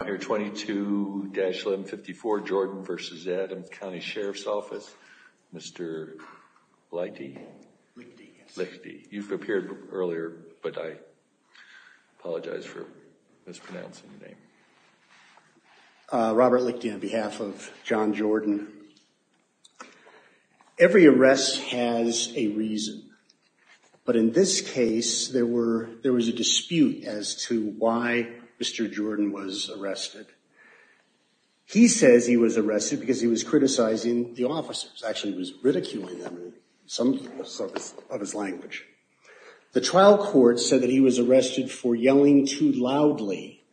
Robert Lichty on behalf of John Jordan. Every arrest has a reason, but in this case there was a dispute as to why Mr. Jordan was arrested. He says he was arrested because he was criticizing the officers. Actually, he was ridiculing them in some of his language. The trial court said that he was arrested for yelling too loudly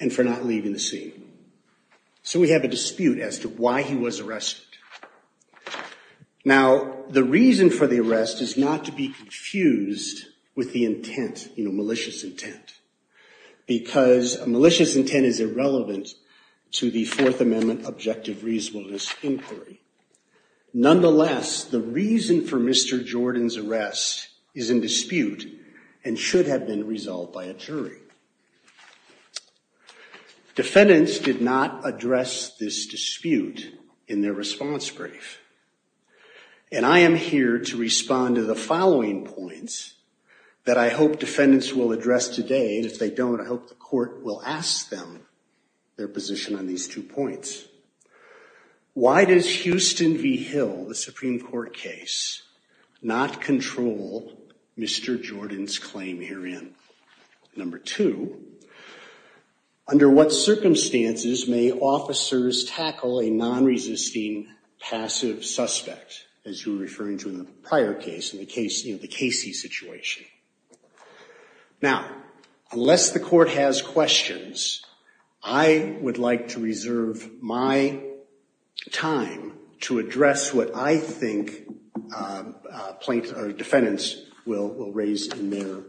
and for not leaving the scene. So we have a dispute as to why he was arrested. Now, the reason for the arrest is not to be confused with the intent, you intent is irrelevant to the Fourth Amendment objective reasonableness inquiry. Nonetheless, the reason for Mr. Jordan's arrest is in dispute and should have been resolved by a jury. Defendants did not address this dispute in their response brief. And I am here to respond to the following points that I hope defendants will address today. And if they don't, I hope the court will ask them their position on these two points. Why does Houston v. Hill, the Supreme Court case, not control Mr. Jordan's claim herein? Number two, under what circumstances may officers tackle a non-resisting passive suspect, as you were referring to in the prior case, in the Casey situation? Now, unless the court has questions, I would like to reserve my time to address what I think plaintiffs or defendants will raise in their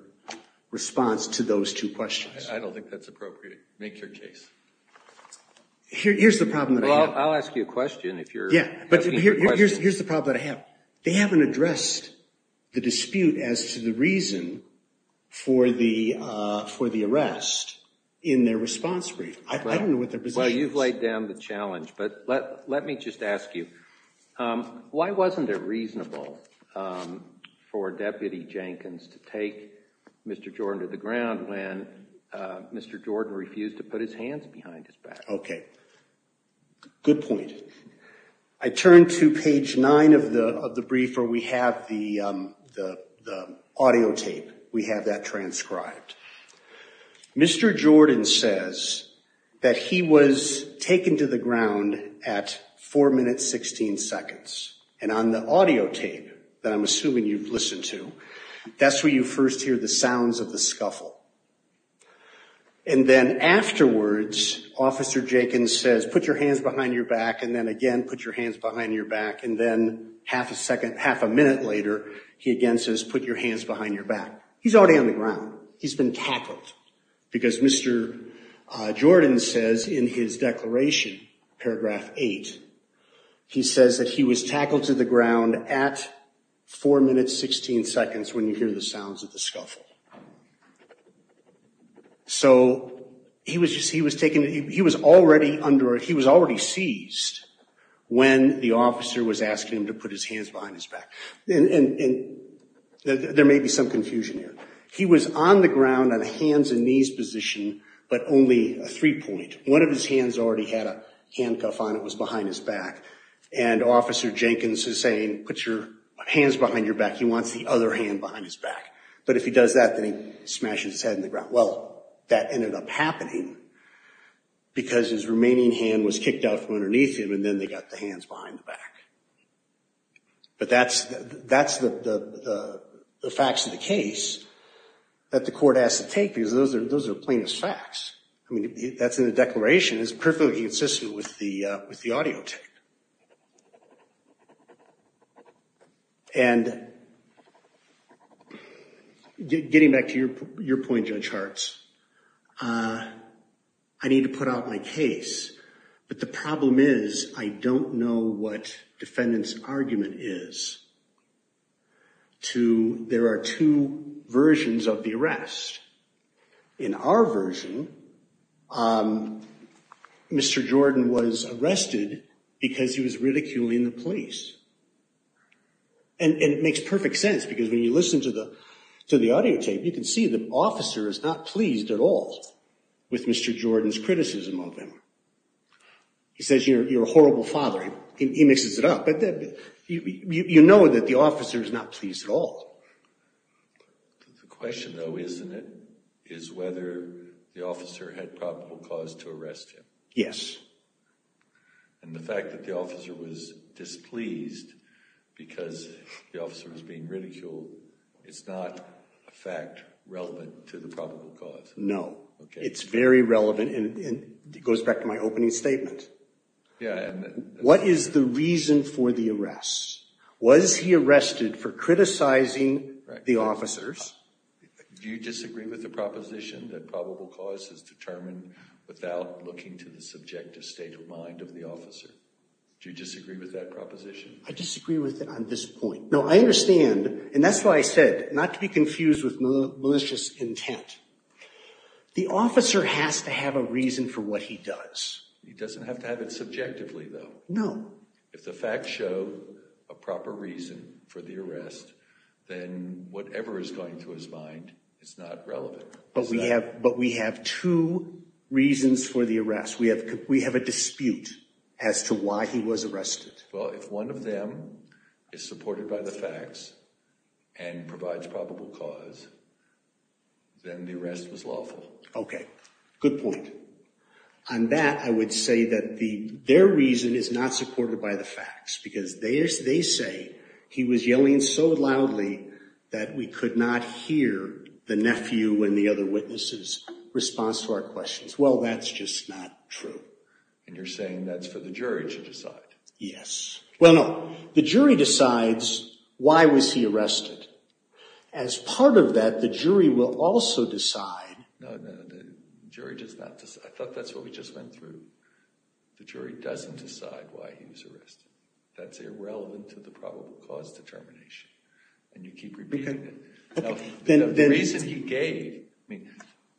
response to those two questions. I don't think that's appropriate. Make your case. Here's the problem that I have. They haven't addressed the dispute as to the reason for the arrest in their response brief. I don't know what their position is. Well, you've laid down the challenge. But let me just ask you, why wasn't it reasonable for Deputy Jenkins to take Mr. Jordan to the ground when Mr. Jordan refused to put his hands behind his back? Okay. Good point. I turn to page 9 of the brief where we have the audio tape. We have that transcribed. Mr. Jordan says that he was taken to the ground at 4 minutes 16 seconds. And on the audio tape, that I'm assuming you've listened to, that's where you first hear the Mr. Jenkins says, put your hands behind your back. And then again, put your hands behind your back. And then half a second, half a minute later, he again says, put your hands behind your back. He's already on the ground. He's been tackled. Because Mr. Jordan says in his declaration, paragraph 8, he says that he was tackled to the ground at 4 minutes 16 seconds when you hear the sounds of the scuffle. So he was taken, he was already under, he was already seized when the officer was asking him to put his hands behind his back. And there may be some confusion here. He was on the ground on a hands and knees position, but only a three-point. One of his hands already had a handcuff on. It was behind his back. And Officer Jenkins is saying, put your hands behind your back. He wants the other hand behind his back. But if he does that, then he smashes his head in the ground. Well, that ended up happening because his remaining hand was kicked out from underneath him, and then they got the hands behind the back. But that's the facts of the case that the court has to take because those are plainest facts. I mean, that's in the declaration. It's perfectly consistent with the audio tape. And getting back to your point, Judge Hartz, I need to put out my case. But the problem is I don't know what defendant's argument is. There are two versions of the arrest. In our version, Mr. Jordan was arrested because he was ridiculing the police. And it makes perfect sense because when you listen to the audio tape, you can see the officer is not pleased at all with Mr. Jordan's criticism of him. He says, you're a horrible father. He mixes it up. But you know that the officer is not pleased at all. The question, though, isn't it, is whether the officer had probable cause to arrest him. Yes. And the fact that the officer was displeased because the officer was being ridiculed, it's not a fact relevant to the probable cause. No. It's very relevant, and it goes back to my opening statement. What is the reason for the arrest? Was he arrested for criticizing the officers? Do you disagree with the proposition that probable cause is determined without looking to the subjective state of mind of the officer? Do you disagree with that proposition? I disagree with it on this point. No, I understand. And that's why I said not to be confused with malicious intent. The officer has to have a reason for what he does. He doesn't have to have it subjectively, though. No. If the facts show a proper reason for the arrest, then whatever is going through his mind is not relevant. But we have two reasons for the arrest. We have a dispute as to why he was arrested. Well, if one of them is supported by the facts and provides probable cause, then the arrest was lawful. Okay. Good point. On that, I would say that their reason is not supported by the facts, because they say he was yelling so loudly that we could not hear the nephew and the other witnesses' response to our questions. Well, that's just not true. And you're saying that's for the jury to decide? Yes. Well, no. The jury decides why was he arrested. As part of that, the jury will also decide. No, no. The jury does not decide. I thought that's what we just went through. The jury doesn't decide why he was arrested. That's irrelevant to the probable cause determination. And you keep repeating it. Okay. The reason he gave, I mean,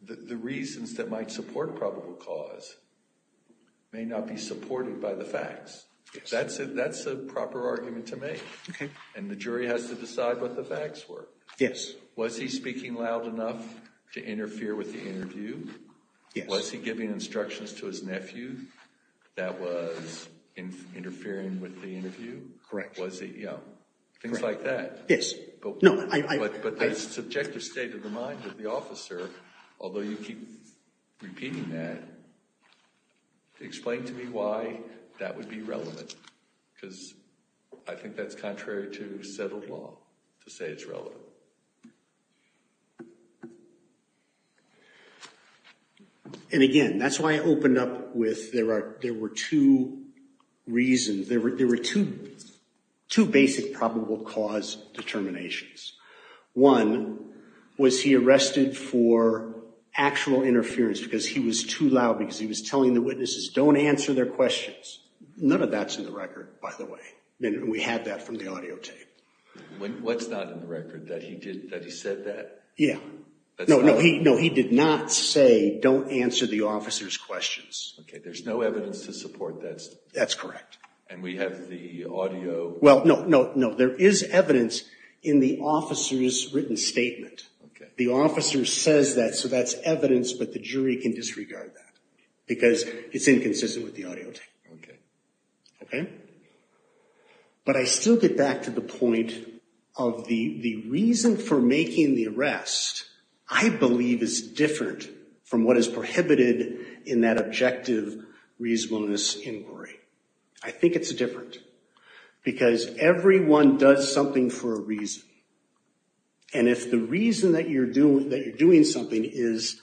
the reasons that might support probable cause may not be supported by the facts. That's a proper argument to make. Okay. And the jury has to decide what the facts were. Yes. Was he speaking loud enough to interfere with the interview? Yes. Was he giving instructions to his nephew that was interfering with the interview? Correct. Was he, you know? Correct. Things like that. Yes. But the subjective state of the mind of the officer, although you keep repeating that, explain to me why that would be relevant. Because I think that's contrary to settled state law to say it's relevant. And again, that's why I opened up with there were two reasons. There were two basic probable cause determinations. One, was he arrested for actual interference because he was too loud, because he was telling the witnesses, don't answer their questions. None of that's in the record, by the way. We had that from the audio tape. What's not in the record? That he said that? Yeah. No, he did not say, don't answer the officer's questions. Okay. There's no evidence to support that. That's correct. And we have the audio. Well, no, no, no. There is evidence in the officer's written statement. Okay. The officer says that, so that's evidence, but the jury can disregard that because it's inconsistent with the audio tape. Okay. But I still get back to the point of the reason for making the arrest, I believe, is different from what is prohibited in that objective reasonableness inquiry. I think it's different because everyone does something for a reason. And if the reason that you're doing something is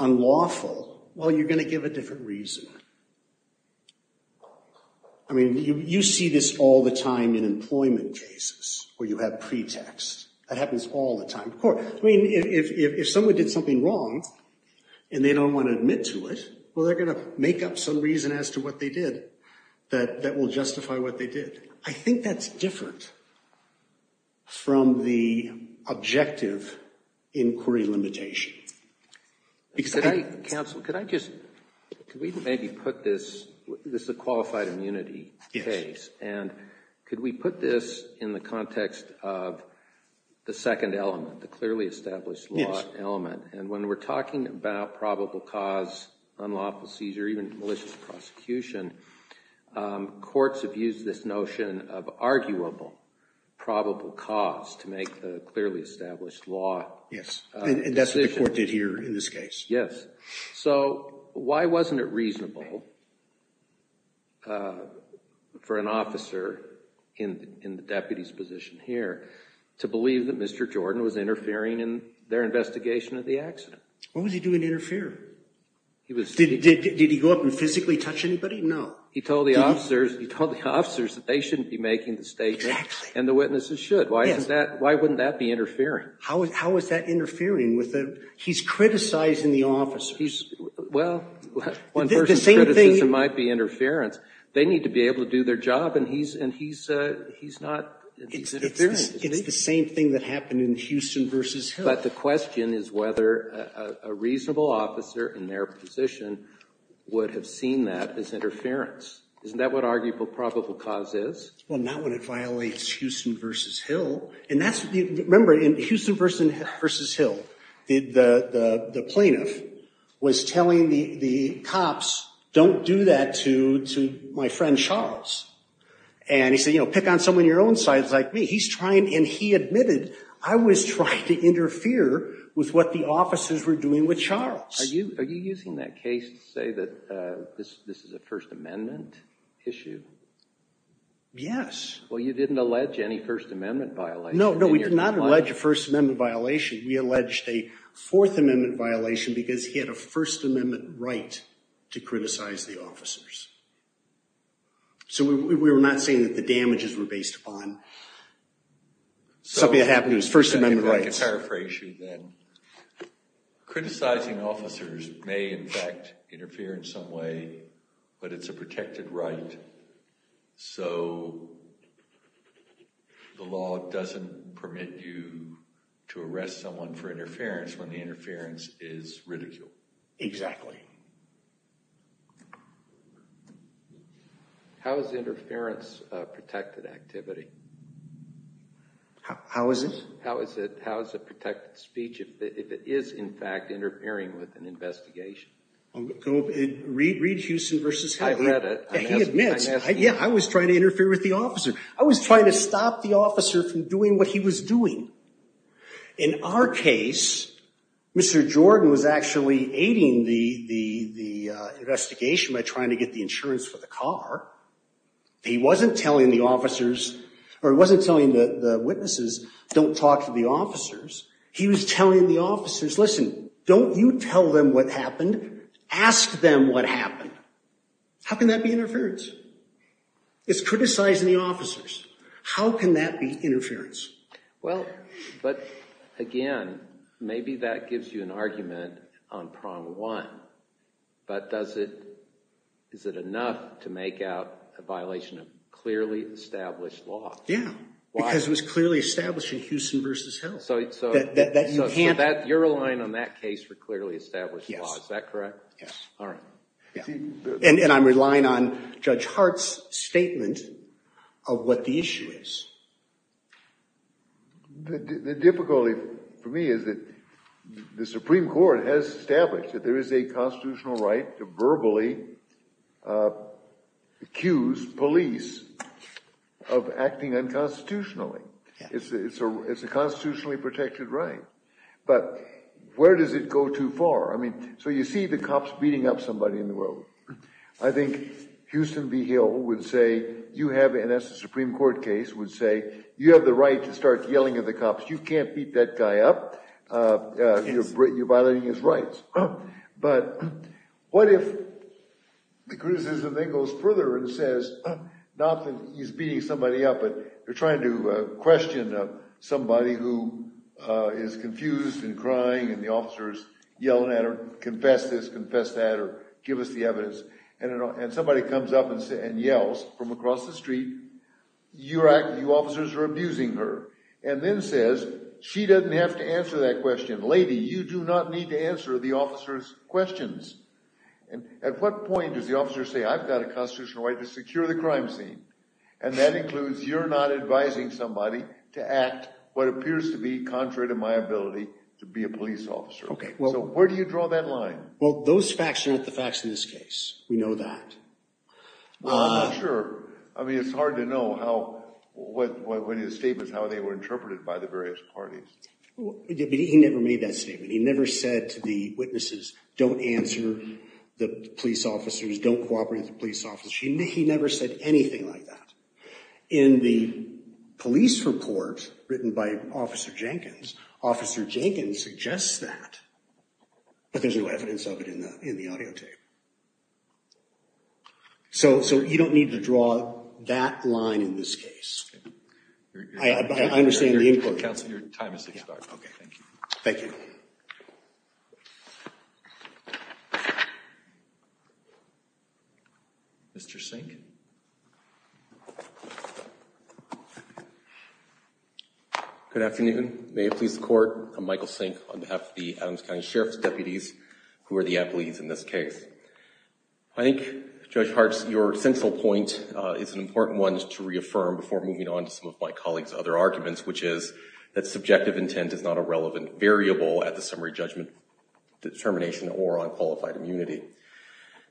unlawful, well, you're going to give a different reason. I mean, you see this all the time in employment cases where you have pretext. That happens all the time. Of course, I mean, if someone did something wrong and they don't want to admit to it, well, they're going to make up some reason as to what they did that will justify what they did. I think that's different from the objective inquiry limitation. Counsel, could I just, could we maybe put this, this is a qualified immunity case. Yes. And could we put this in the context of the second element, the clearly established law element? And when we're talking about probable cause, unlawful seizure, even malicious prosecution, courts have used this notion of arguable probable cause to make the clearly established law decision. Yes. And that's what the court did here in this case. Yes. So why wasn't it reasonable for an officer in the deputy's position here to believe that Mr. Jordan was interfering in their investigation of the accident? What was he doing to interfere? Did he go up and physically touch anybody? No. He told the officers, he told the officers that they shouldn't be making the statement and the witnesses should. Why isn't that, why wouldn't that be interfering? How is that interfering? He's criticizing the officers. Well, one person's criticism might be interference. They need to be able to do their job and he's not, he's interfering. It's the same thing that happened in Houston v. Hill. But the question is whether a reasonable officer in their position would have seen that as interference. Isn't that what arguable probable cause is? Well, not when it violates Houston v. Hill. And that's, remember, in Houston v. Hill, the plaintiff was telling the cops, don't do that to my friend Charles. And he said, you know, pick on someone your own size like me. He's trying, and he admitted, I was trying to interfere with what the officers were doing with Charles. Are you using that case to say that this is a First Amendment issue? Yes. Well, you didn't allege any First Amendment violation. No, no, we did not allege a First Amendment violation. We alleged a Fourth Amendment violation because he had a First Amendment right to criticize the officers. So we were not saying that the damages were based upon something that happened to his First Amendment rights. So if I can paraphrase you then, criticizing officers may in fact interfere in some way, but it's a protected right. So the law doesn't permit you to arrest someone for interference when the interference is ridiculed. Exactly. How is interference a protected activity? How is it? How is it protected speech if it is in fact interfering with an investigation? Read Huston v. Hagley. I read it. He admits, yeah, I was trying to interfere with the officer. I was trying to stop the officer from doing what he was doing. In our case, Mr. Jordan was actually aiding the investigation by trying to get the insurance for the car. He wasn't telling the officers, or he wasn't telling the witnesses, don't talk to the officers. He was telling the officers, listen, don't you tell them what happened. Ask them what happened. How can that be interference? It's criticizing the officers. How can that be interference? Well, but again, maybe that gives you an argument on prong one, but is it enough to make out a violation of clearly established law? Yeah. Why? Because it was clearly established in Huston v. Hill. So you're relying on that case for clearly established law. Is that correct? Yes. All right. And I'm relying on Judge Hart's statement of what the issue is. The difficulty for me is that the Supreme Court has established that there is a constitutional right to verbally accuse police of acting unconstitutionally. It's a constitutionally protected right. But where does it go too far? I mean, so you see the cops beating up somebody in the road. I think Huston v. Hill would say, you have, and that's a Supreme Court case, would say, you have the right to start yelling at the cops. You can't beat that guy up. Yes. But what if the criticism then goes further and says, not that he's beating somebody up, but they're trying to question somebody who is confused and crying, and the officer is yelling at her, confess this, confess that, or give us the evidence, and somebody comes up and yells from across the street, you officers are abusing her, and then says, she doesn't have to answer that question. Lady, you do not need to answer the officer's questions. And at what point does the officer say, I've got a constitutional right to secure the crime scene, and that includes you're not advising somebody to act what appears to be contrary to my ability to be a police officer. So where do you draw that line? Well, those facts are not the facts in this case. We know that. Well, I'm not sure. I mean, it's hard to know what his statement is, how they were interpreted by the various parties. He never made that statement. He never said to the witnesses, don't answer the police officers, don't cooperate with the police officers. He never said anything like that. In the police report written by Officer Jenkins, Officer Jenkins suggests that, but there's no evidence of it in the audio tape. So you don't need to draw that line in this case. I understand your input, Counselor. Your time has expired. Thank you. Mr. Sink. Good afternoon. May it please the Court, I'm Michael Sink on behalf of the Adams County Sheriff's Deputies, who are the employees in this case. I think, Judge Hartz, your central point is an important one to reaffirm before moving on to some of my colleague's other arguments, which is that subjective intent is not a relevant variable at the summary judgment determination or on qualified immunity.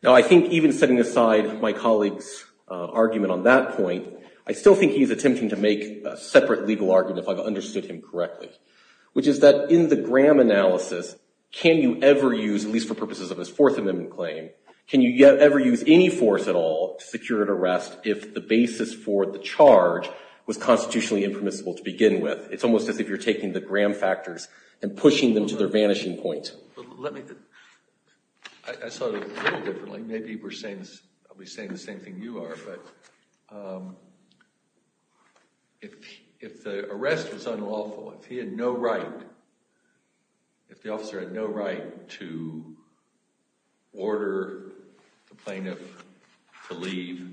Now, I think even setting aside my colleague's argument on that point, I still think he's attempting to make a separate legal argument, if I've understood him correctly, which is that in the Graham analysis, can you ever use, at least for purposes of his Fourth Amendment claim, can you ever use any force at all to secure an arrest if the basis for the charge was constitutionally impermissible to begin with? It's almost as if you're taking the Graham factors and pushing them to their vanishing point. I saw it a little differently. Maybe I'll be saying the same thing you are. But if the arrest was unlawful, if he had no right, if the officer had no right to order the plaintiff to leave,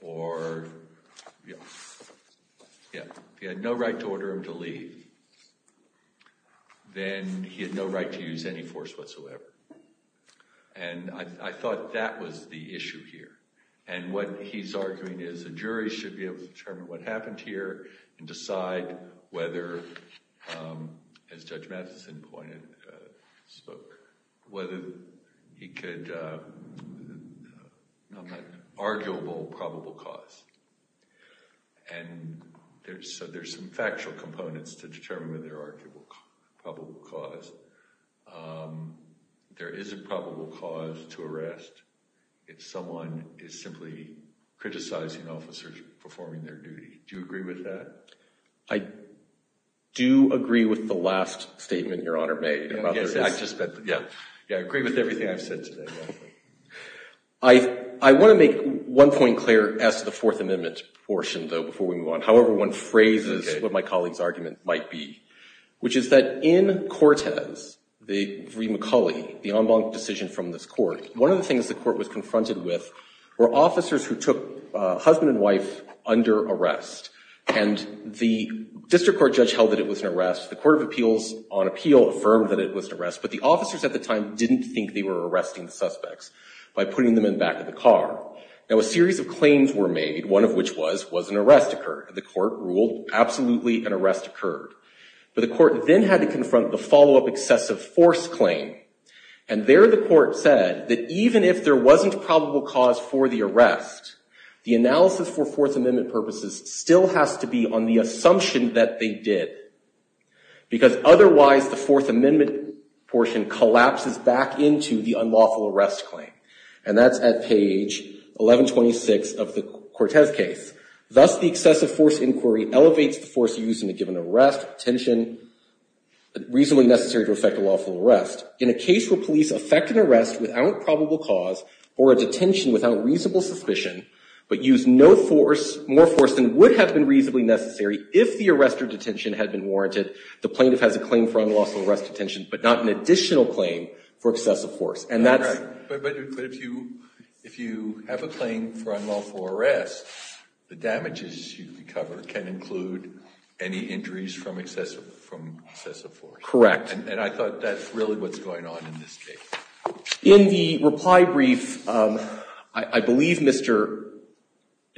or if he had no right to order him to leave, then he had no right to use any force whatsoever. And I thought that was the issue here. And what he's arguing is a jury should be able to determine what happened here and decide whether, as Judge Matheson pointed, whether he could—not matter—arguable probable cause. And so there's some factual components to determine whether there's an arguable probable cause. There is a probable cause to arrest if someone is simply criticizing officers performing their duty. Do you agree with that? I do agree with the last statement Your Honor made. Yeah, I agree with everything I've said today. I want to make one point clear as to the Fourth Amendment portion, though, before we move on. However one phrases what my colleague's argument might be, which is that in Cortez v. McCulley, the en banc decision from this court, one of the things the court was confronted with were officers who took husband and wife under arrest. And the district court judge held that it was an arrest. The Court of Appeals, on appeal, affirmed that it was an arrest. But the officers at the time didn't think they were arresting the suspects by putting them in the back of the car. Now a series of claims were made, one of which was, was an arrest occurred. The court ruled absolutely an arrest occurred. But the court then had to confront the follow-up excessive force claim. And there the court said that even if there wasn't probable cause for the arrest, the analysis for Fourth Amendment purposes still has to be on the assumption that they did. Because otherwise the Fourth Amendment portion collapses back into the unlawful arrest claim. And that's at page 1126 of the Cortez case. Thus the excessive force inquiry elevates the force used in a given arrest, tension reasonably necessary to effect a lawful arrest. In a case where police effect an arrest without probable cause or a detention without reasonable suspicion, but use no force, more force than would have been reasonably necessary if the arrest or detention had been warranted, the plaintiff has a claim for unlawful arrest detention, but not an additional claim for excessive force. And that's. But if you, if you have a claim for unlawful arrest, the damages you recover can include any injuries from excessive, from excessive force. Correct. And I thought that's really what's going on in this case. In the reply brief, I believe Mr.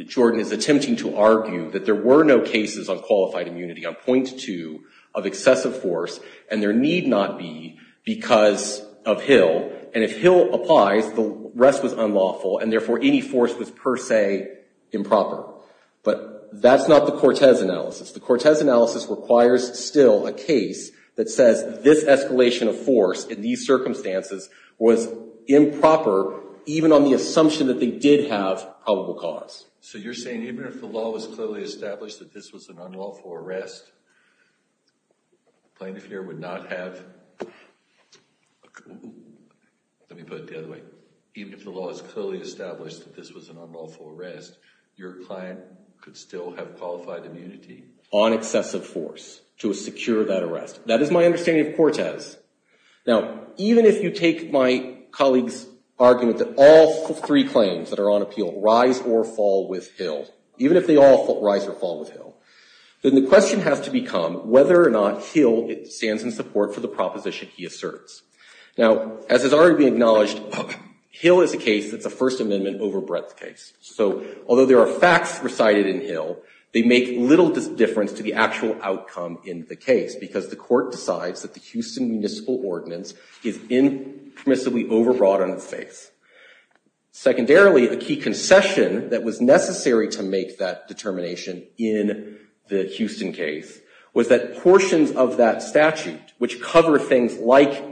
Jordan is attempting to argue that there were no cases on qualified immunity on point two of excessive force, and there need not be because of Hill. And if Hill applies, the rest was unlawful and therefore any force was per se improper. But that's not the Cortez analysis. The Cortez analysis requires still a case that says this escalation of force in these circumstances was improper, even on the assumption that they did have probable cause. So you're saying even if the law was clearly established that this was an unlawful arrest. Plaintiff here would not have. Let me put it the other way. Even if the law is clearly established that this was an unlawful arrest, your client could still have qualified immunity on excessive force to secure that arrest. That is my understanding of Cortez. Now, even if you take my colleague's argument that all three claims that are on appeal rise or fall with Hill, even if they all rise or fall with Hill, then the question has to become whether or not Hill stands in support for the proposition he asserts. Now, as has already been acknowledged, Hill is a case that's a First Amendment overbreadth case. So although there are facts recited in Hill, they make little difference to the actual outcome in the case because the court decides that the Houston municipal ordinance is impermissibly overwrought on its face. Secondarily, a key concession that was necessary to make that determination in the Houston case was that portions of that statute which cover things like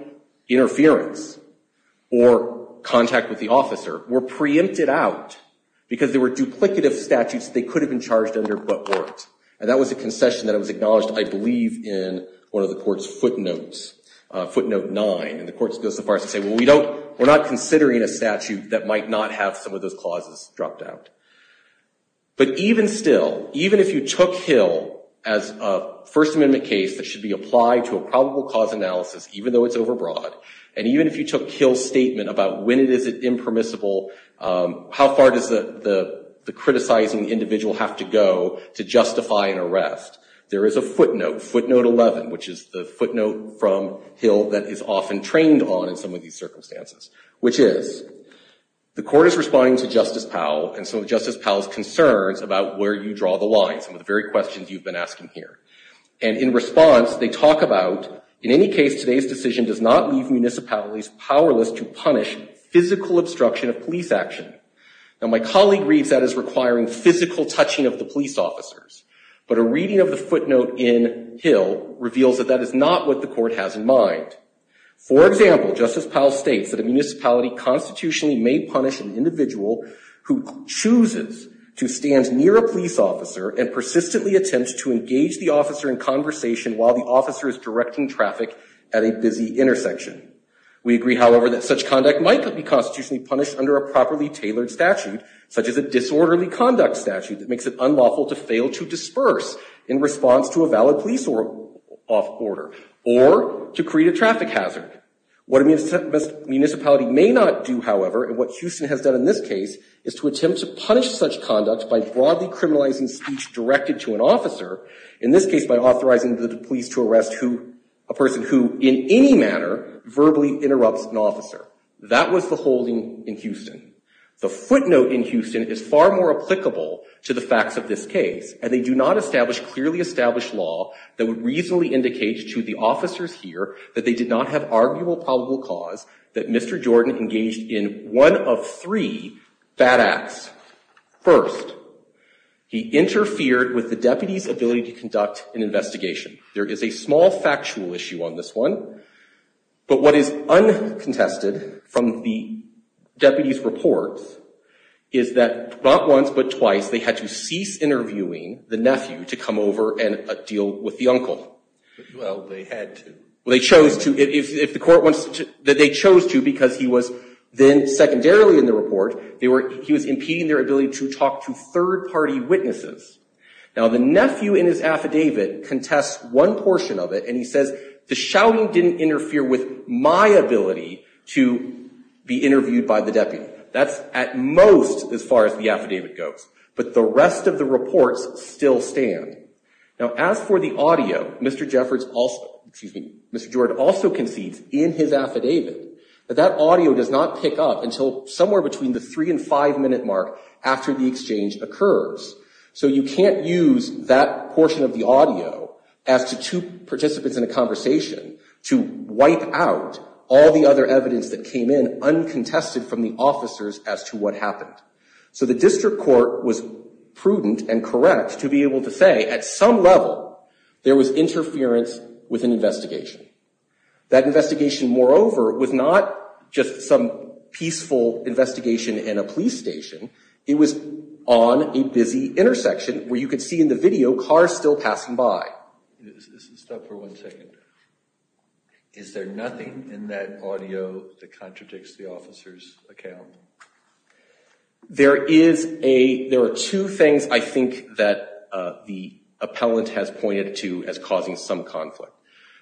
interference or contact with the officer were preempted out because there were duplicative statutes they could have been charged under but weren't. And that was a concession that was acknowledged, I believe, in one of the court's footnotes, footnote nine. And the court goes so far as to say, well, we're not considering a statute that might not have some of those clauses dropped out. But even still, even if you took Hill as a First Amendment case that should be applied to a probable cause analysis, even though it's overbroad, and even if you took Hill's statement about when is it impermissible, how far does the criticizing individual have to go to justify an arrest, there is a footnote, footnote 11, which is the footnote from Hill that is often trained on in some of these circumstances, which is the court is responding to Justice Powell and so Justice Powell's concerns about where you draw the line, some of the very questions you've been asking here. And in response, they talk about, in any case, today's decision does not leave municipalities powerless to punish physical obstruction of police action. Now, my colleague reads that as requiring physical touching of the police officers. But a reading of the footnote in Hill reveals that that is not what the court has in mind. For example, Justice Powell states that a municipality constitutionally may punish an individual who chooses to stand near a police officer and persistently attempts to engage the officer in conversation while the officer is directing traffic at a busy intersection. We agree, however, that such conduct might be constitutionally punished under a properly tailored statute, such as a disorderly conduct statute that makes it unlawful to fail to disperse in response to a valid police order or to create a traffic hazard. What a municipality may not do, however, and what Houston has done in this case, is to attempt to punish such conduct by broadly criminalizing speech directed to an officer, in this case by authorizing the police to arrest a person who in any manner verbally interrupts an officer. That was the holding in Houston. The footnote in Houston is far more applicable to the facts of this case, and they do not establish clearly established law that would reasonably indicate to the officers here that they did not have arguable probable cause that Mr. Jordan engaged in one of three bad acts. First, he interfered with the deputy's ability to conduct an investigation. There is a small factual issue on this one, but what is uncontested from the deputy's report is that not once but twice they had to cease interviewing the nephew to come over and deal with the uncle. Well, they had to. Well, they chose to. If the court wants to, they chose to because he was then secondarily in the report. He was impeding their ability to talk to third-party witnesses. Now, the nephew in his affidavit contests one portion of it, and he says the shouting didn't interfere with my ability to be interviewed by the deputy. That's at most as far as the affidavit goes, but the rest of the reports still stand. Now, as for the audio, Mr. Jordan also concedes in his affidavit that that audio does not pick up until somewhere between the three- and five-minute mark after the exchange occurs. So you can't use that portion of the audio as to two participants in a conversation to wipe out all the other evidence that came in uncontested from the officers as to what happened. So the district court was prudent and correct to be able to say at some level there was interference with an investigation. That investigation, moreover, was not just some peaceful investigation in a police station. It was on a busy intersection where you could see in the video cars still passing by. Stop for one second. Is there nothing in that audio that contradicts the officer's account? There are two things I think that the appellant has pointed to as causing some conflict.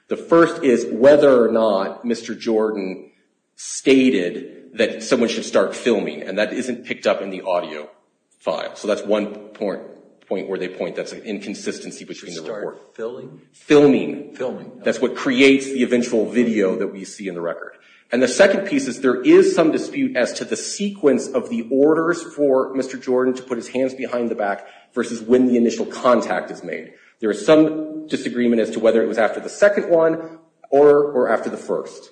The first is whether or not Mr. Jordan stated that someone should start filming, and that isn't picked up in the audio file. So that's one point where they point that's an inconsistency between the report. Should he start filming? Filming. Filming. That's what creates the eventual video that we see in the record. And the second piece is there is some dispute as to the sequence of the orders for Mr. Jordan to put his hands behind the back versus when the initial contact is made. There is some disagreement as to whether it was after the second one or after the first.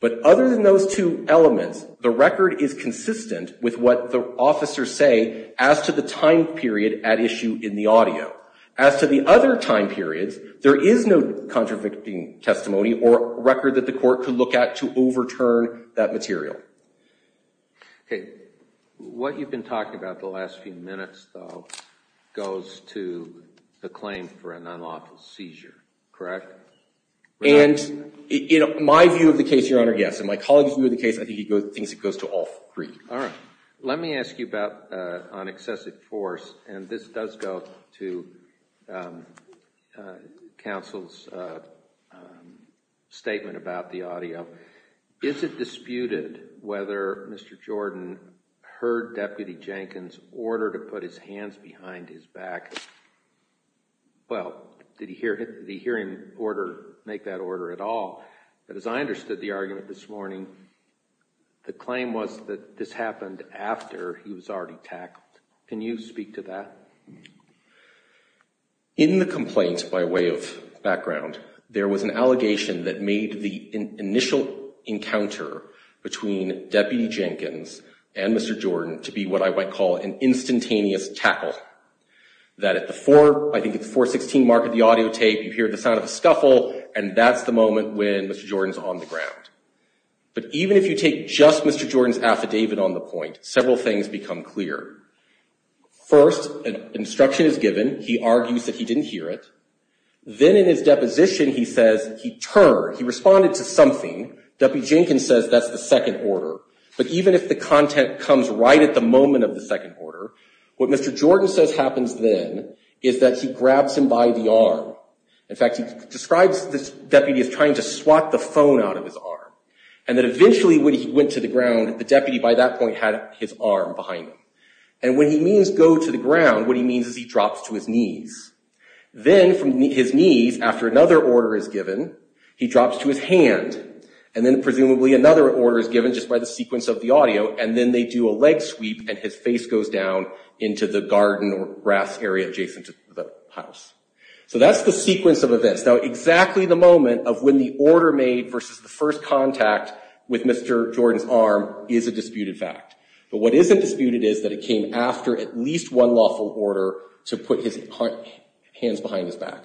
But other than those two elements, the record is consistent with what the officers say as to the time period at issue in the audio. As to the other time periods, there is no contradicting testimony or record that the court could look at to overturn that material. Okay. What you've been talking about the last few minutes, though, goes to the claim for an unlawful seizure, correct? And my view of the case, Your Honor, yes. And my colleague's view of the case, I think he thinks it goes to all three. All right. Let me ask you about on excessive force, and this does go to counsel's statement about the audio. Is it disputed whether Mr. Jordan heard Deputy Jenkins order to put his hands behind his back? Well, did he hear him make that order at all? But as I understood the argument this morning, the claim was that this happened after he was already tackled. Can you speak to that? In the complaint, by way of background, there was an allegation that made the initial encounter between Deputy Jenkins and Mr. Jordan to be what I might call an instantaneous tackle, that at the 416 mark of the audio tape, you hear the sound of a scuffle, and that's the moment when Mr. Jordan's on the ground. But even if you take just Mr. Jordan's affidavit on the point, several things become clear. First, an instruction is given. He argues that he didn't hear it. Then in his deposition, he says he turned, he responded to something. Deputy Jenkins says that's the second order. But even if the content comes right at the moment of the second order, what Mr. Jordan says happens then is that he grabs him by the arm. In fact, he describes this deputy as trying to swat the phone out of his arm, and that eventually when he went to the ground, the deputy by that point had his arm behind him. And when he means go to the ground, what he means is he drops to his knees. Then from his knees, after another order is given, he drops to his hand, and then presumably another order is given just by the sequence of the audio, and then they do a leg sweep and his face goes down into the garden or grass area adjacent to the house. So that's the sequence of events. Now, exactly the moment of when the order made versus the first contact with Mr. Jordan's arm is a disputed fact. But what isn't disputed is that it came after at least one lawful order to put his hands behind his back.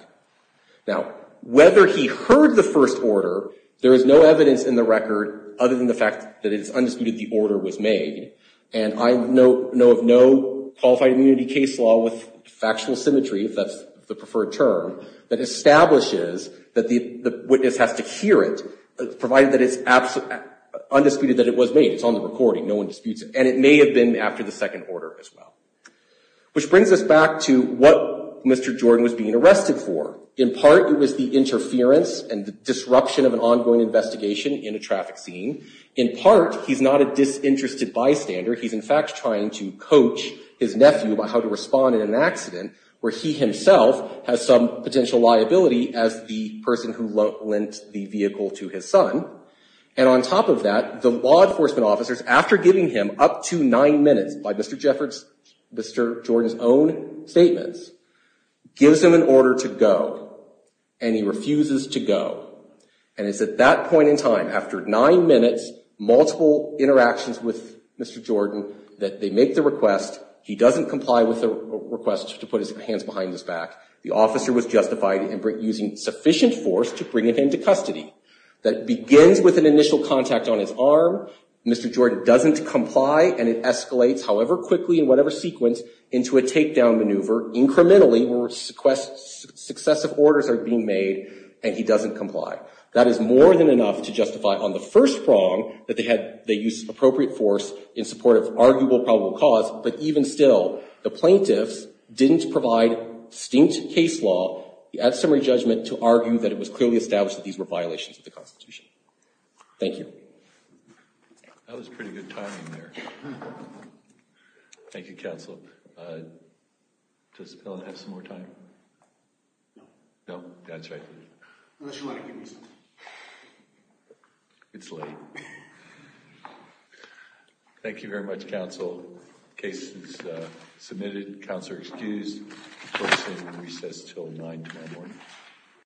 Now, whether he heard the first order, there is no evidence in the record other than the fact that it is undisputed the order was made. And I know of no qualified immunity case law with factual symmetry, if that's the preferred term, that establishes that the witness has to hear it, provided that it's undisputed that it was made. It's on the recording. No one disputes it. And it may have been after the second order as well. Which brings us back to what Mr. Jordan was being arrested for. In part, it was the interference and the disruption of an ongoing investigation in a traffic scene. In part, he's not a disinterested bystander. He's, in fact, trying to coach his nephew about how to respond in an accident, where he himself has some potential liability as the person who lent the vehicle to his son. And on top of that, the law enforcement officers, after giving him up to nine minutes by Mr. Jordan's own statements, gives him an order to go. And he refuses to go. And it's at that point in time, after nine minutes, multiple interactions with Mr. Jordan, that they make the request. He doesn't comply with the request to put his hands behind his back. The officer was justified in using sufficient force to bring him into custody. That begins with an initial contact on his arm. Mr. Jordan doesn't comply. And it escalates, however quickly and whatever sequence, into a takedown maneuver, incrementally where successive orders are being made, and he doesn't comply. That is more than enough to justify, on the first prong, that they used appropriate force in support of arguable probable cause. But even still, the plaintiffs didn't provide distinct case law at summary judgment to argue that it was clearly established that these were violations of the Constitution. Thank you. That was pretty good timing there. Thank you, Counsel. Does Ellen have some more time? No. No, that's right. Unless you want to give me something. It's late. Thank you very much, Counsel. Case is submitted. Counselor excused. Court is in recess until 9 tomorrow morning.